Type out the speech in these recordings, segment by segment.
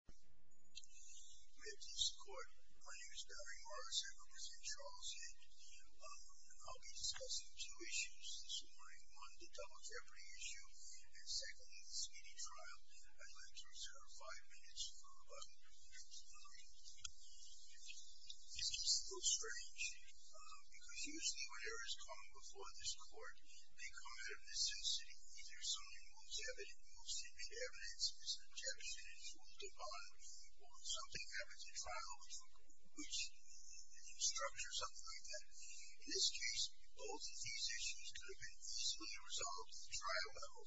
My name is Barry Morris. I represent Charles Head. I'll be discussing two issues this morning. One, the double jeopardy issue and secondly, the speedy trial. I'd like to reserve five minutes for about an hour. This case is a little strange because usually when errors come before this court, they come out of necessity. Either someone moves to evidence, is objection is moved upon, or something happens in trial, which structures something like that. In this case, both of these issues could have been easily resolved at the trial level.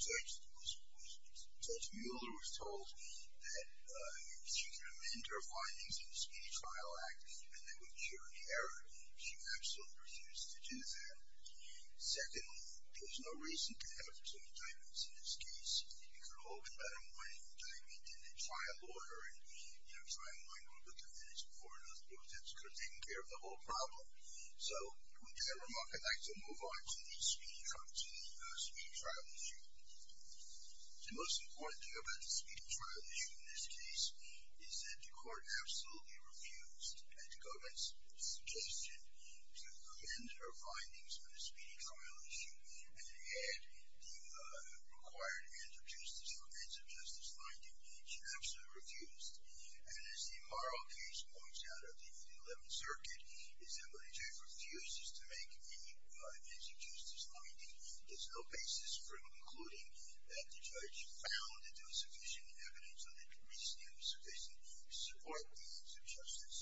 Judge Mueller was told that she could amend her findings in the Speedy Trial Act and that would cure the error. She absolutely refused to do that. Secondly, there's no reason to have two indictments in this case. It could have all been better if one indictment didn't try a lawyer and try and wind up the evidence before it was used. It could have taken care of the whole problem. So, with that remark, I'd like to move on to the speedy trial issue. The most important thing about the speedy trial issue in this case is that the court absolutely refused to go against the suggestion to amend her findings on the speedy trial issue and add the required ends of justice finding. She absolutely refused. And as the moral case points out of the 8th and 11th Circuit, the assembly judge refuses to make any ends of justice finding. There's no basis for concluding that the judge found that there was sufficient evidence and that the reasoning was sufficient to support the ends of justice.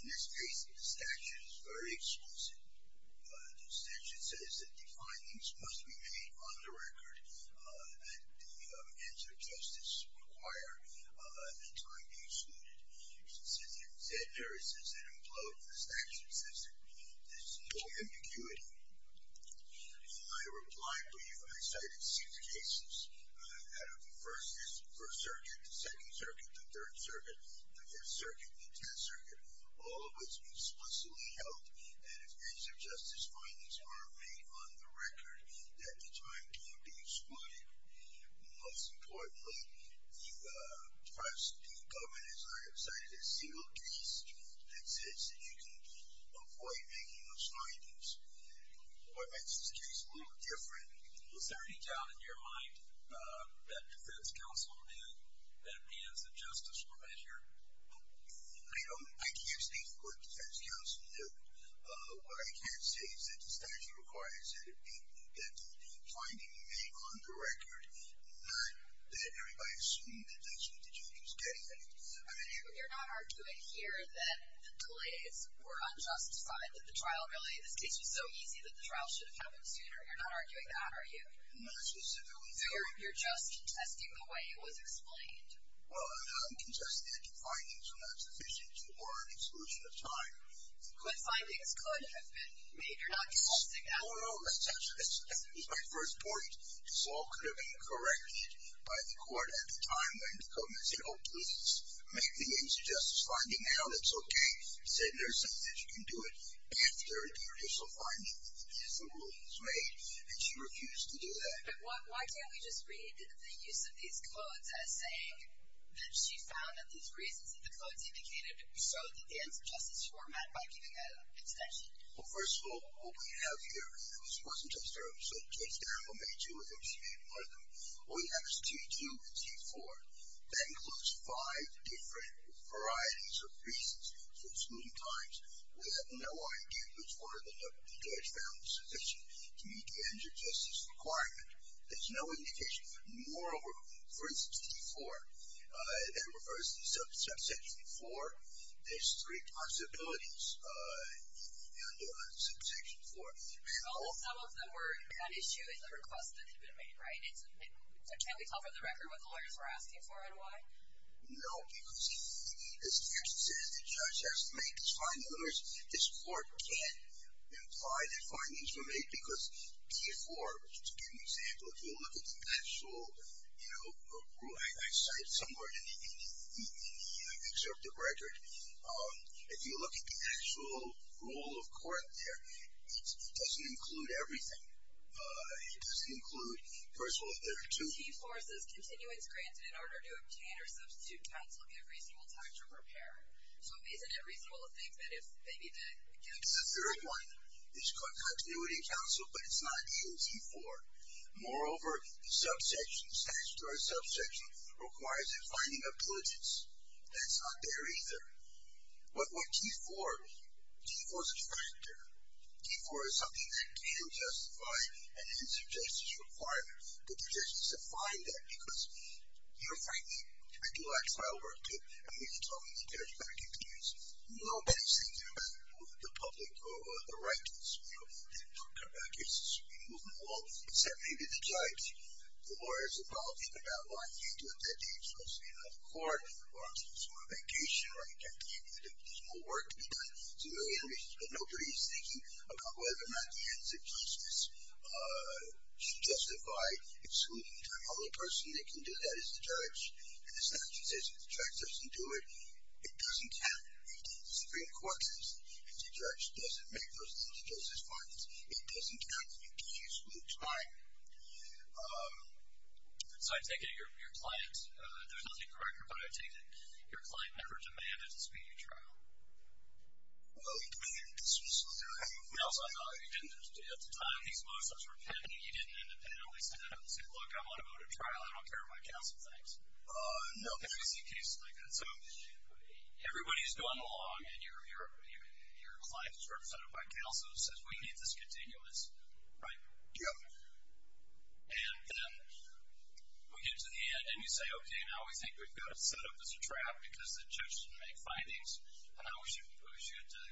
In this case, the statute is very explicit. The statute says that the findings must be made on the record that the ends of justice require that time be excluded. It says that in Zedner, it says that in Plough, the statute says that there's no ambiguity. In my reply brief, I cited six cases out of the First Circuit, the Second Circuit, the Third Circuit, the Fifth Circuit, and the Tenth Circuit. All of which explicitly held that if ends of justice findings weren't made on the record, that the time can't be excluded. Most importantly, the government has not cited a single case that says that you can avoid making those findings. What makes this case a little different. Is there any doubt in your mind that defense counsel did that ends of justice were measured? I don't, I can't speak for defense counsel there. What I can say is that the statute requires that the findings be made on the record. Not that everybody assumed that that's what the judge was getting at. You're not arguing here that the delays were unjustified. That the trial really, this case was so easy that the trial should have happened sooner. You're not arguing that, are you? Not specifically. You're just contesting the way it was explained. Well, I'm contesting that the findings were not sufficient or an exclusion of time. But findings could have been made. You're not contesting that. No, no, no. That's actually, that's my first point. This all could have been corrected by the court at the time when the government said, oh, please make the ends of justice finding now. That's okay. They said there's something that you can do it after the original finding is made. And she refused to do that. But why can't we just read the use of these codes as saying that she found that these reasons in the codes indicated so that the ends of justice were met by giving an extension? Well, first of all, what we have here, it wasn't just Darryl. So Judge Darryl made two of them. She made one of them. What we have is T2 and T4. That includes five different varieties of reasons for excluding times. We have no idea which one of them the judge found sufficient to meet the ends of justice requirement. There's no indication. Moreover, for instance, T4, that refers to subsection 4, there's three possibilities under subsection 4. Well, some of them were an issue in the request that had been made, right? Can we tell for the record what the lawyers were asking for and why? No. Because as the judge has to make his findings, this court can't imply that findings were made because T4, which is to give an example, if you look at the actual, you know, I cited somewhere in the excerpt of the record, if you look at the actual rule of court there, it doesn't include everything. It doesn't include, first of all, there are two. T4 says continuance granted in order to obtain or substitute counsel in a reasonable time to prepare. So isn't it reasonable to think that if they needed to continue? The third one is continuity counsel, but it's not in T4. Moreover, the subsection, statutory subsection requires a finding of diligence. That's not there either. What would T4 mean? T4 is a factor. T4 is something that can justify and is a justice requirement. But the judge doesn't find that because, you know, frankly, I do like trial work. I mean, you can tell me the judge is going to continue. Nobody says anything about the public or the right to this, you know, that gets removed from the law, except maybe the judge. The lawyers are talking about why they need to attend to explicitly another court or I'm supposed to go on vacation, right? There's more work to be done. But nobody is thinking about whether or not the ends of justice should justify excluding time. The only person that can do that is the judge. And it's not that the judge doesn't do it. It doesn't count. The Supreme Court does. And the judge doesn't make those kinds of judgments. It doesn't count. You can't exclude time. So I take it your client, there's nothing correct here, but I take it your client never demanded this be a trial. Well, at the time, these motions were pending. You didn't independently say, look, I want to go to trial. I don't care what my counsel thinks. No. Because we see cases like that. So everybody is going along and your client is represented by counsel who says we need this continuous, right? Yep. And then we get to the end, and you say, okay, now we think we've got it set up as a trap because the judge didn't make findings, and now we should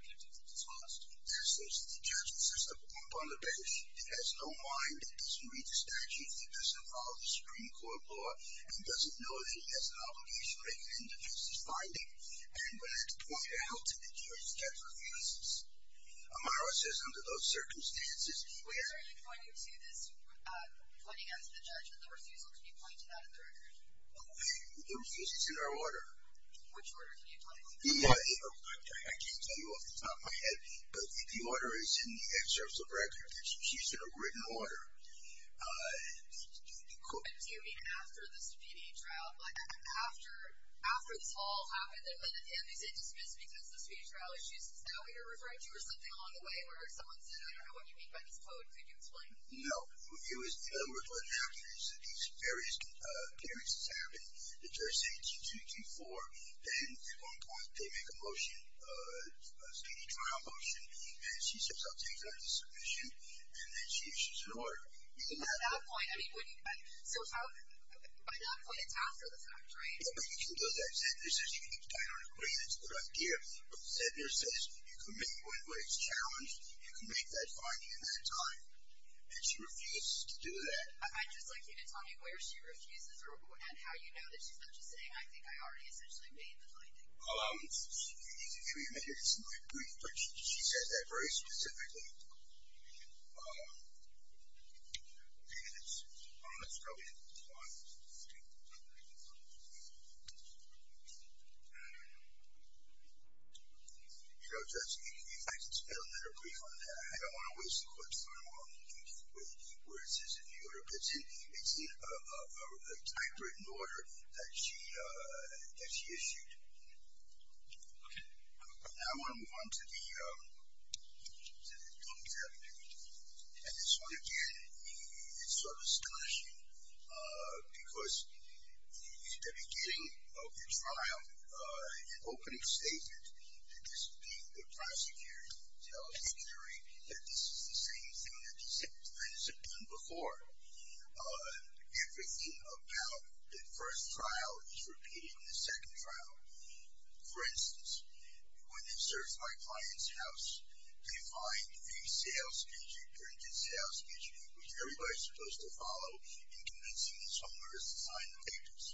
get to the task. The judge insists upon the bench. He has no mind. He doesn't read the statute. He doesn't follow the Supreme Court law, and he doesn't know that he has an obligation to make an indecisive finding. And when it's pointed out to the jury, the judge refuses. Amaro says under those circumstances, where are you pointing to this pointing out to the judge that the refusal can be pointed out in the record? The refusal is in our order. Which order can you point to? I can't tell you off the top of my head, but the order is in the excerpts of record. She's in a written order. Do you mean after the subpoena trial? After this all happened, and then the family is indismissed because the subpoena trial issue is now what you're referring to or something along the way, or someone said, I don't know what you mean by this quote. Could you explain? No. In other words, what happened is that these various hearings have happened. The judge said 2-2-2-4. Then at one point, they make a motion, a state trial motion, and she says I'll take that as a submission, and then she issues her order. So by that point, it's after the fact, right? Yeah, but you can do that. Zegner says you can keep the title in the agreement. It's a good idea. But Zegner says you can make what is challenged, you can make that finding in that time, and she refuses to do that. I'd just like you to tell me where she refuses and how you know that she's not just saying, I think I already essentially made the finding. Let me give you a minute to see my brief, but she says that very specifically. Okay. Let's go ahead and move on. Judge, if you'd like to spell that or brief on that. I don't want to waste the court's time on where it says in the order, but it's in a typewritten order that she issued. Okay. Now I want to move on to the don'ts avenue. And this one, again, is sort of astonishing because at the beginning of the trial, an opening statement that this being the prosecutorial dictionary, that this is the same thing that the same defendants have done before. Everything about the first trial is repeated in the second trial. For instance, when they search my client's house, they find a sales pitch, a printed sales pitch, which everybody's supposed to follow in convincing someone to sign the papers.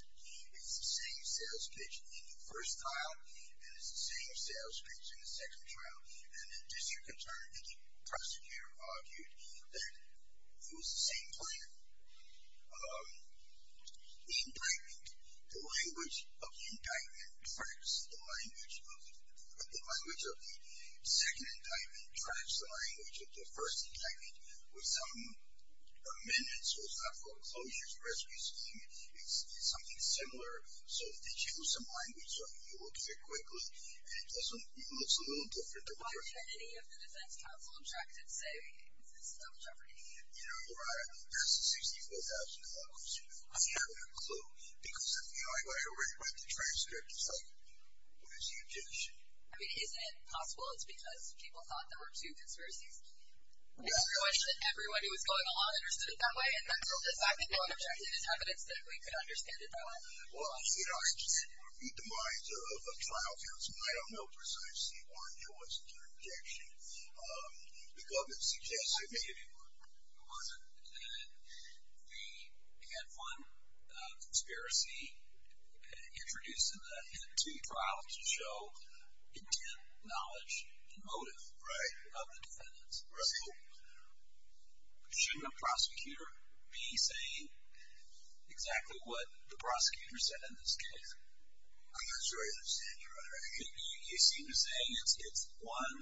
It's the same sales pitch in the first trial, and it's the same sales pitch in the second trial. And in disconcern, the prosecutor argued that it was the same plan. Indictment. The language of the indictment tracks the language of the second indictment tracks the language of the first indictment with some amendments, so it's not called a closures or rescues scheme. It's something similar. So if they choose some language, you will get it quickly. And it looks a little different than what we're seeing. Why did any of the defense counsel attracted say this is a double jeopardy? That's a 64,000-dollar question. I don't have a clue, because I already read the transcript. It's like, what is the objection? I mean, isn't it possible it's because people thought there were two conspiracies? It's a question that everyone who was going along understood it that way, and then for the fact that no one objected, it's evidence that we could understand it that way. Well, you know, I just didn't read the minds of a trial counsel, and I don't know precisely why there wasn't an objection. The government suggested that. It wasn't that we had one conspiracy introduced into the trial to show intent, knowledge, and motive of the defendants. So shouldn't a prosecutor be saying exactly what the prosecutor said in this case? I'm not sure I understand your question. You seem to be saying it's one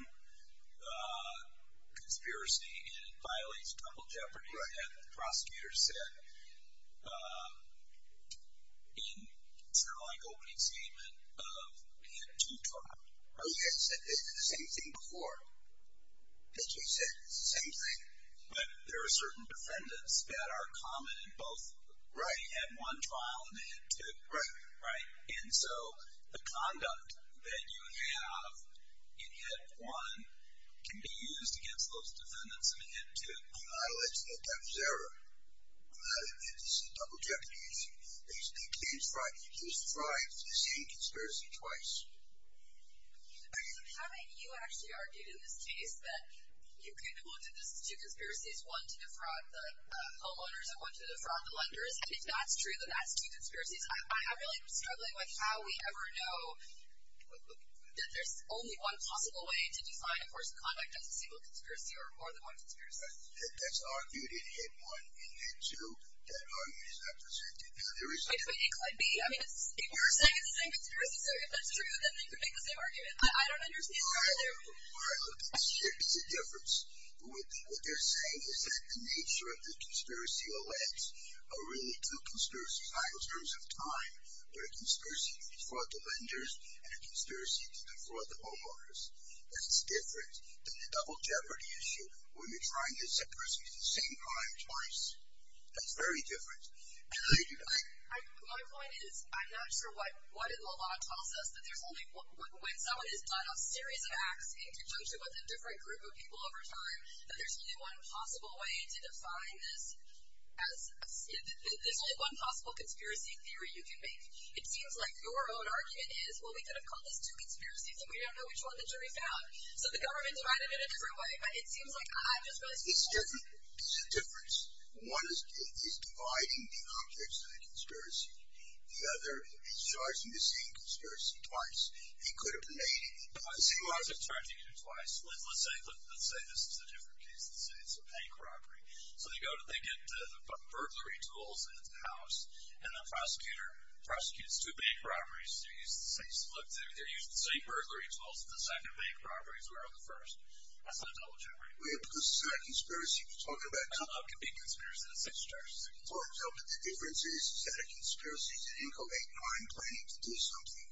conspiracy, and it violates double jeopardy, as the prosecutor said in sort of like opening statement of we had two trials. Oh, yes. I said the same thing before. Yes, you said the same thing. But there are certain defendants that are common in both. Right. You had one trial and then two. Right. And so the conduct that you have in HIT 1 can be used against those defendants in HIT 2. I'm not alleging that that was error. It's a double jeopardy issue. They just tried the same conspiracy twice. How about you actually argued in this case that you could have looked at this as two conspiracies, one to defraud the homeowners and one to defraud the lenders, and if that's true, then that's two conspiracies. I really am struggling with how we ever know that there's only one possible way to define, of course, the conduct of a single conspiracy or more than one conspiracy. That's argued in HIT 1 and HIT 2. That argument is not presented. It could be. I mean, if you're saying it's the same conspiracy, so if that's true, then they could make the same argument. I don't understand. All right. Look, it makes a difference. What they're saying is that the nature of the conspiracy alleged are really two conspiracies. It's not in terms of time, but a conspiracy to defraud the lenders and a conspiracy to defraud the homeowners. It's different than the double jeopardy issue when you're trying the same person at the same time twice. That's very different. And how do you do that? My point is I'm not sure what the law tells us, but when someone has done a series of acts in conjunction with a different group of people over time, that there's only one possible way to define this. There's only one possible conspiracy theory you can make. It seems like your own argument is, well, we could have called this two conspiracies and we don't know which one the jury found. So the government tried it in a different way. But it seems like I'm just going to support it. It's different. It's a difference. One is dividing the objects of the conspiracy. The other is charging the same conspiracy twice. He could have made it twice. See, why is it charging you twice? Let's say this is a different case. Let's say it's a bank robbery. So they get the burglary tools and it's a house, and the prosecutor prosecutes two bank robberies. Look, they're using the same burglary tools that the second bank robberies were on the first. That's not a double jeopardy. Well, yeah, because it's not a conspiracy. Talking about coming up can be a conspiracy. For example, the difference is it's not a conspiracy. It didn't go 8-9 planning to do something.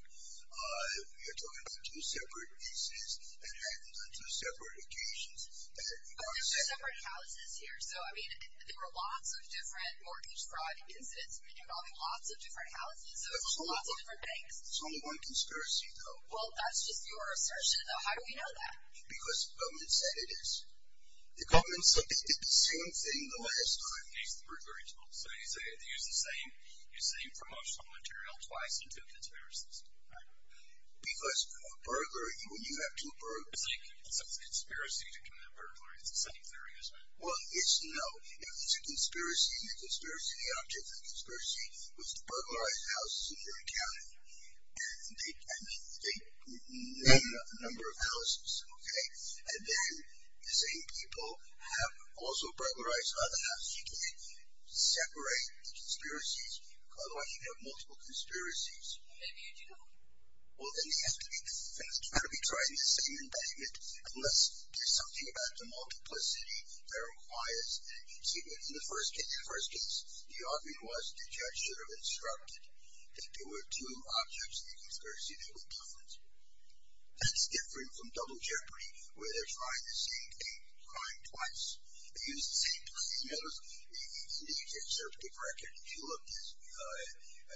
We are talking about two separate cases that happened on two separate occasions. But there's separate houses here. So, I mean, there were lots of different mortgage fraud incidents involving lots of different houses. So there's lots of different banks. It's only one conspiracy, though. Well, that's just your assertion, though. How do we know that? Because the government said it is. The government said the same thing the last time. So they used the same promotional material twice in two conspiracies. Because a burglary, when you have two burglars. So it's a conspiracy to commit a burglary. It's the same theory, isn't it? Well, it's no. If it's a conspiracy, and the conspiracy, the object of the conspiracy was to burglarize houses in your county. And they named a number of houses, okay? And then the same people have also burglarized other houses. You can't separate the conspiracies. Otherwise, you'd have multiple conspiracies. Maybe you do not. Well, then you have to be trying the same embankment. Unless there's something about the multiplicity that requires it. See, in the first case, the argument was the judge should have instructed that there were two objects in the conspiracy that were different. That's different from double jeopardy, where they're trying the same thing, trying twice. They used the same materials. And you can check their paper record. If you look at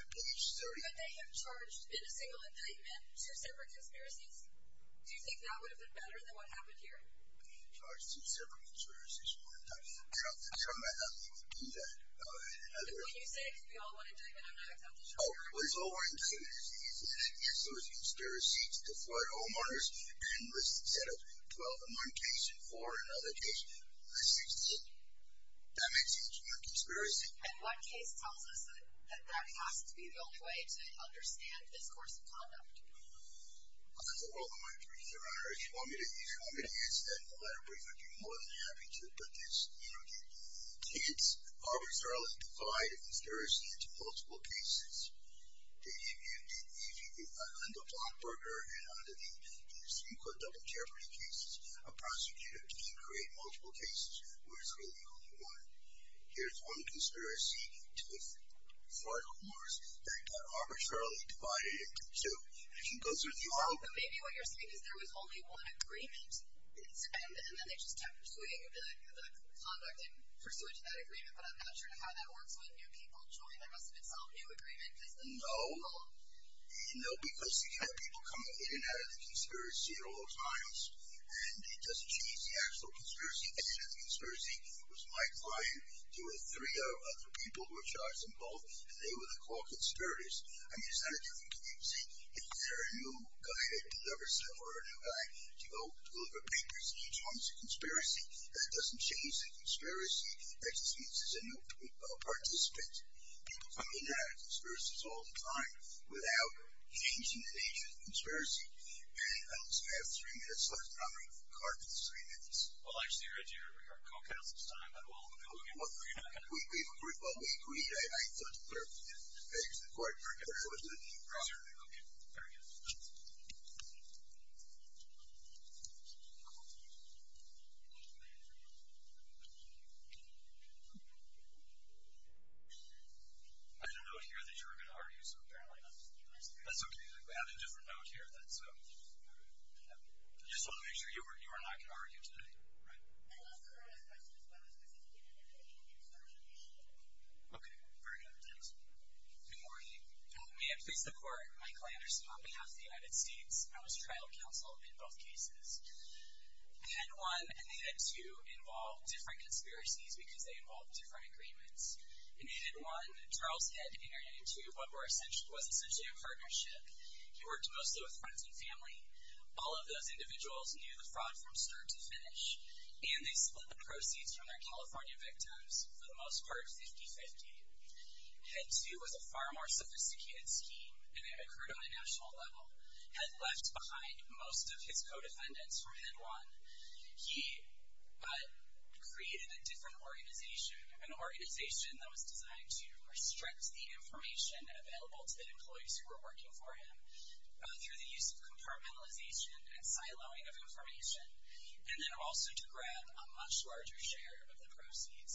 page 30. But they have charged in a single indictment two separate conspiracies. Do you think that would have been better than what happened here? Charged two separate conspiracies. Well, I'm not going to try my luck to do that. And when you say, because we all want indictment, I'm not going to try my luck. Oh, it was over indictment. Yes, there was a conspiracy to defraud homeowners. And instead of 12 in one case and four in another case, there's 16. That makes it a conspiracy. And one case tells us that that has to be the only way to understand this course of conduct. Well, that's a world of my career, Your Honor. If you want me to answer that in a letter brief, I'd be more than happy to. But this, you know, the kids arbitrarily divide a conspiracy into multiple cases. If you look under Blomberger and under the so-called double jeopardy cases, a prosecutor can create multiple cases where there's really only one. Here's one conspiracy to defraud homeowners that got arbitrarily divided into two. And if you go through the URL. But maybe what you're saying is there was only one agreement. And then they just kept pursuing the conduct in pursuit of that agreement. But I'm not sure how that works when new people join. There must have been some new agreement. No. No, because you can have people come in and out of the conspiracy at all times. And it doesn't change the actual conspiracy. In the conspiracy, it was my client. There were three other people who were charged in both. And they were the core conspirators. I mean, it's not a different case. If there are new guys that deliver stuff or a new guy to go deliver papers, each one is a conspiracy. That doesn't change the conspiracy. It just means there's a new participant. People come in and out of conspiracies all the time without changing the nature of the conspiracy. And I have three minutes left. I'm going to call it three minutes. Well, actually, Reggie, you're going to recall Council's time. But we'll go again. We've agreed. Well, we agreed. I thought the clerk did. All right. Okay. Very good. I had a note here that you were going to argue. So, apparently, that's okay. We have a different note here. So I just want to make sure you are not going to argue today. Right? Okay. Very good. Thanks. Good morning. May I please support Mike Landerson on behalf of the United States? I was trial counsel in both cases. Head one and head two involve different conspiracies because they involve different agreements. In head one, Charles Head entered into what was essentially a partnership. He worked mostly with friends and family. All of those individuals knew the fraud from start to finish, and they split the proceeds from their California victims for the most part 50-50. Head two was a far more sophisticated scheme, and it occurred on a national level. Head left behind most of his co-defendants from head one. He created a different organization, an organization that was designed to restrict the information available to the employees who were working for him through the use of compartmentalization and siloing of information, and then also to grab a much larger share of the proceeds,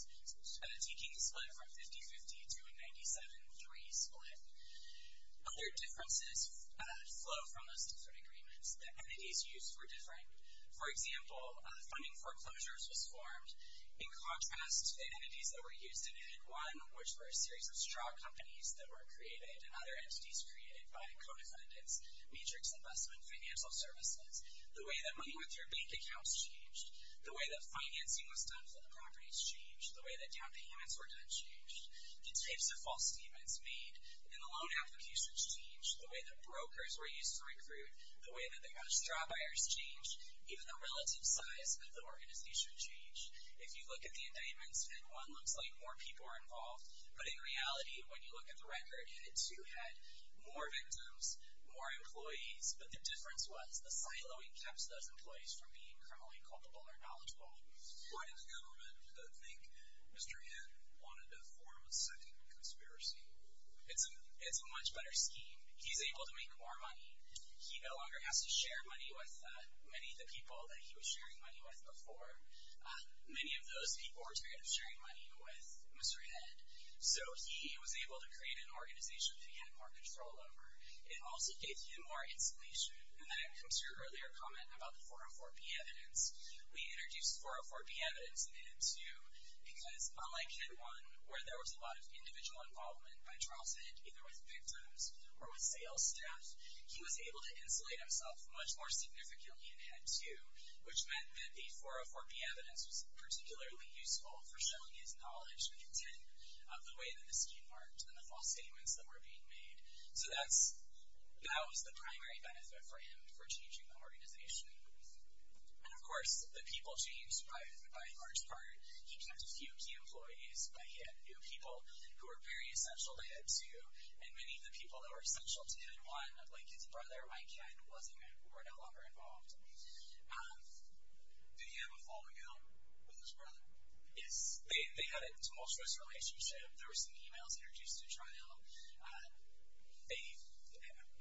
taking the split from 50-50 to a 97-3 split. Other differences flow from those different agreements. The entities used were different. For example, funding foreclosures was formed. In contrast, the entities that were used in head one, which were a series of straw companies that were created and other entities created by co-defendants, matrix investment, financial services. The way that money went through bank accounts changed. The way that financing was done for the properties changed. The way that down payments were done changed. The types of false statements made in the loan applications changed. The way that brokers were used to recruit. The way that they had straw buyers changed. Even the relative size of the organization changed. If you look at the indictments, head one looks like more people are involved, but in reality, when you look at the record, head two had more victims, more employees, but the difference was the siloing kept those employees from being criminally culpable or knowledgeable. Why did the government think Mr. Head wanted to form a second conspiracy? It's a much better scheme. He's able to make more money. He no longer has to share money with many of the people that he was sharing money with before. Many of those people were tired of sharing money with Mr. Head, so he was able to create an organization that he had more control over. It also gave him more insulation, and that comes to your earlier comment about the 404B evidence. We introduced 404B evidence in head two because, unlike head one, where there was a lot of individual involvement by trial set, either with victims or with sales staff, he was able to insulate himself much more significantly in head two, which meant that the 404B evidence was particularly useful for showing his knowledge and intent of the way that the scheme worked and the false statements that were being made. So that was the primary benefit for him for changing the organization. And, of course, the people changed by a large part. He kept a few key employees, but he had new people who were very essential to head two, and many of the people that were essential to head one, like his brother, Mike Head, were no longer involved. Did he have a falling out with his brother? Yes. They had a tumultuous relationship. There were some e-mails introduced to trial. They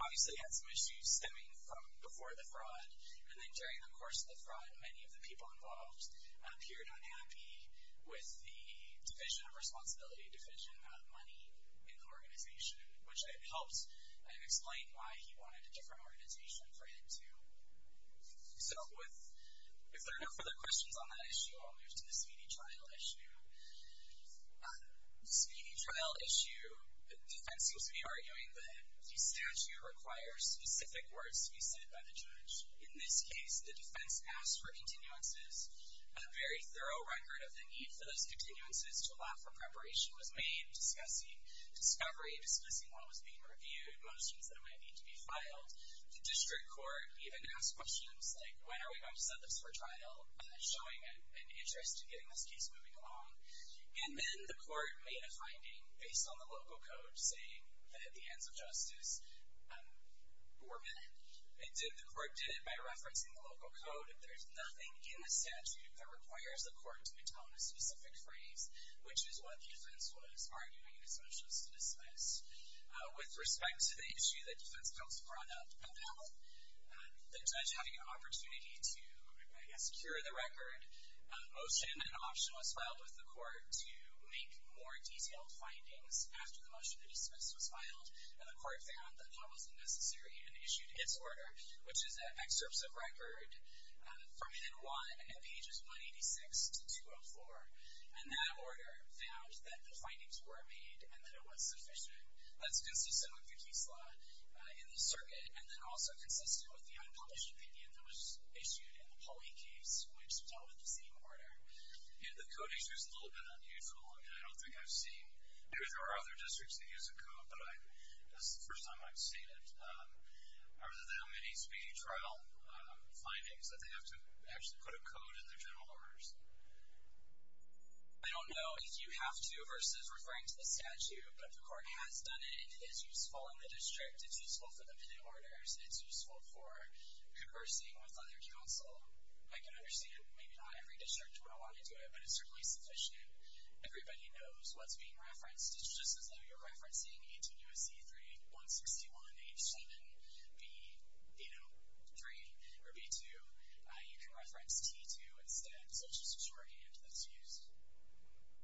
obviously had some issues stemming from before the fraud, and then during the course of the fraud, many of the people involved appeared unhappy with the division of responsibility, division of money in the organization, which helped explain why he wanted a different organization for head two. So if there are no further questions on that issue, I'll move to the Speedy Trial issue. The Speedy Trial issue, the defense seems to be arguing that the statute requires specific words to be said by the judge. In this case, the defense asked for continuances. A very thorough record of the need for those continuances to allow for preparation was made, discussing discovery, discussing what was being reviewed, motions that might need to be filed. The district court even asked questions like, when are we going to set this for trial, showing an interest in getting this case moving along. And then the court made a finding based on the local code saying that at the hands of justice were men. The court did it by referencing the local code. There's nothing in the statute that requires the court to atone a specific phrase, which is what the defense was arguing as much as to dismiss. With respect to the issue that defense counsel brought up about health, the judge having an opportunity to, I guess, cure the record, motion and option was filed with the court to make more detailed findings after the motion to dismiss was filed, and the court found that that wasn't necessary and issued its order, which is excerpts of record from head one and pages 186 to 204. And that order found that the findings were made and that it was sufficient. That's consistent with the case law in the circuit, and then also consistent with the unpublished opinion that was issued in the Pauley case, which dealt with the same order. The code issue is a little bit unusual, and I don't think I've seen, maybe there are other districts that use a code, but this is the first time I've seen it. Are there that many speedy trial findings that they have to actually put a code in their general orders? I don't know if you have to versus referring to the statute, but the court has done it. It is useful in the district. It's useful for the minute orders. It's useful for conversing with other counsel. I can understand maybe not every district would want to do it, but it's certainly sufficient. Everybody knows what's being referenced. It's just as though you're referencing 18 U.S.C. 3161 H7B3 or B2. You can reference T2 instead. So it's just a shorthand that's used.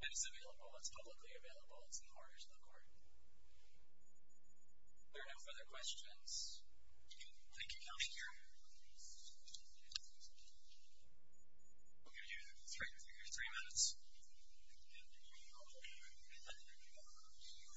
And it's available. It's publicly available. It's in the orders of the court. If there are no further questions, I'm going to keep going here. I'm going to give you three minutes. Thank you.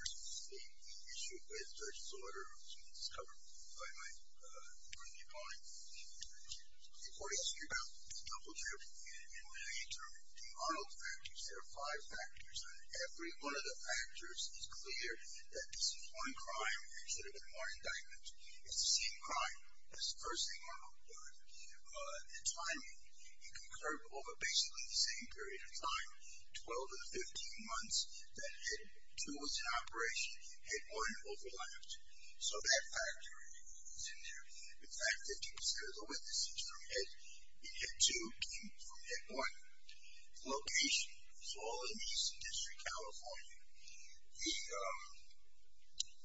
First, the issue with Judge Sawyer, which was covered by my colleague. The court issued a double-trip in the interim. There are no factors. There are five factors. Every one of the factors is clear that this is one crime and should have been more indictment. It's the same crime. It's the first thing on the board. The timing. He concurred over basically the same period of time, 12 of the 15 months that Head 2 was in operation, Head 1 overlapped. So that factor is in there. In fact, 50% of the witnesses in Head 2 came from Head 1. The location. It's all in East District, California.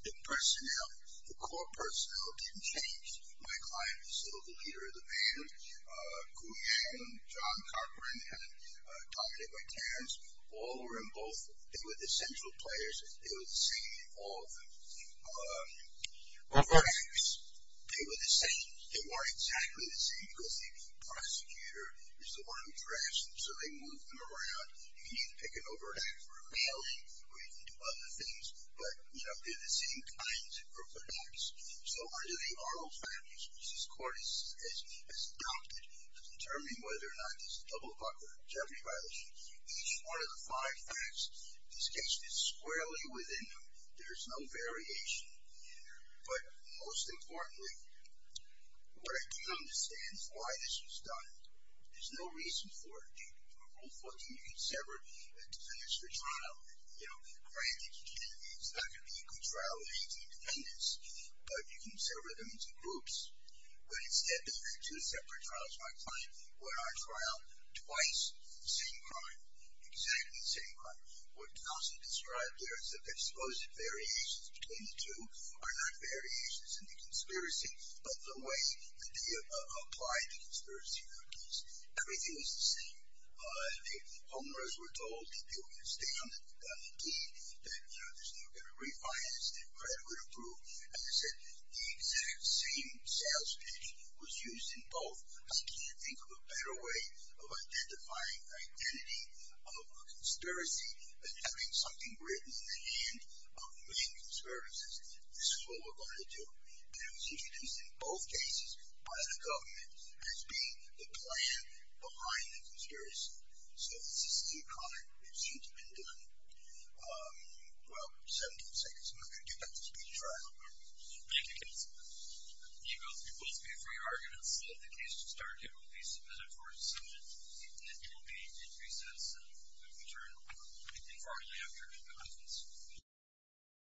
The personnel, the court personnel didn't change. My client was still the leader of the band. Gu Yang, John Carpenter, and Dominic McTerrance, all were in both. They were the central players. They were the same in all of them. Overacts. They were the same. They weren't exactly the same because the prosecutor is the one who drafts them, so they move them around. You can either pick an overact for a mailing or you can do other things. But, you know, they're the same kinds of overacts. So under the Arnold Families, which this court has adopted to determine whether or not this is a double buck or a jeopardy violation, each one of the five facts, this case fits squarely within them. There's no variation. But most importantly, what I do understand is why this was done. There's no reason for it. Due to Rule 14, you can sever a defense for trial. You know, granted, it's not going to be a good trial. But you can sever them into groups. When it's stepped into a separate trial, it's not a crime. When I trial twice, the same crime. Exactly the same crime. What Nelson described there is that the supposed variations between the two are not variations in the conspiracy, but the way that they apply the conspiracy theories. Everything was the same. The homeowners were told that they were going to stay on the deed, that, you know, there's no going to be a refinance, but it would approve. As I said, the exact same sales pitch was used in both. I can't think of a better way of identifying the identity of a conspiracy than having something written in the hand of the main conspiracist. This is what we're going to do. And it was introduced in both cases by the government as being the plan behind the conspiracy. So it's a same crime. It seems to have been done, well, 17 seconds ago. Do you have the speech? I don't remember. Thank you. You both can speak for your arguments. The case to start here will be submitted for a dissent. It will be in recess. We'll return informally after the conference.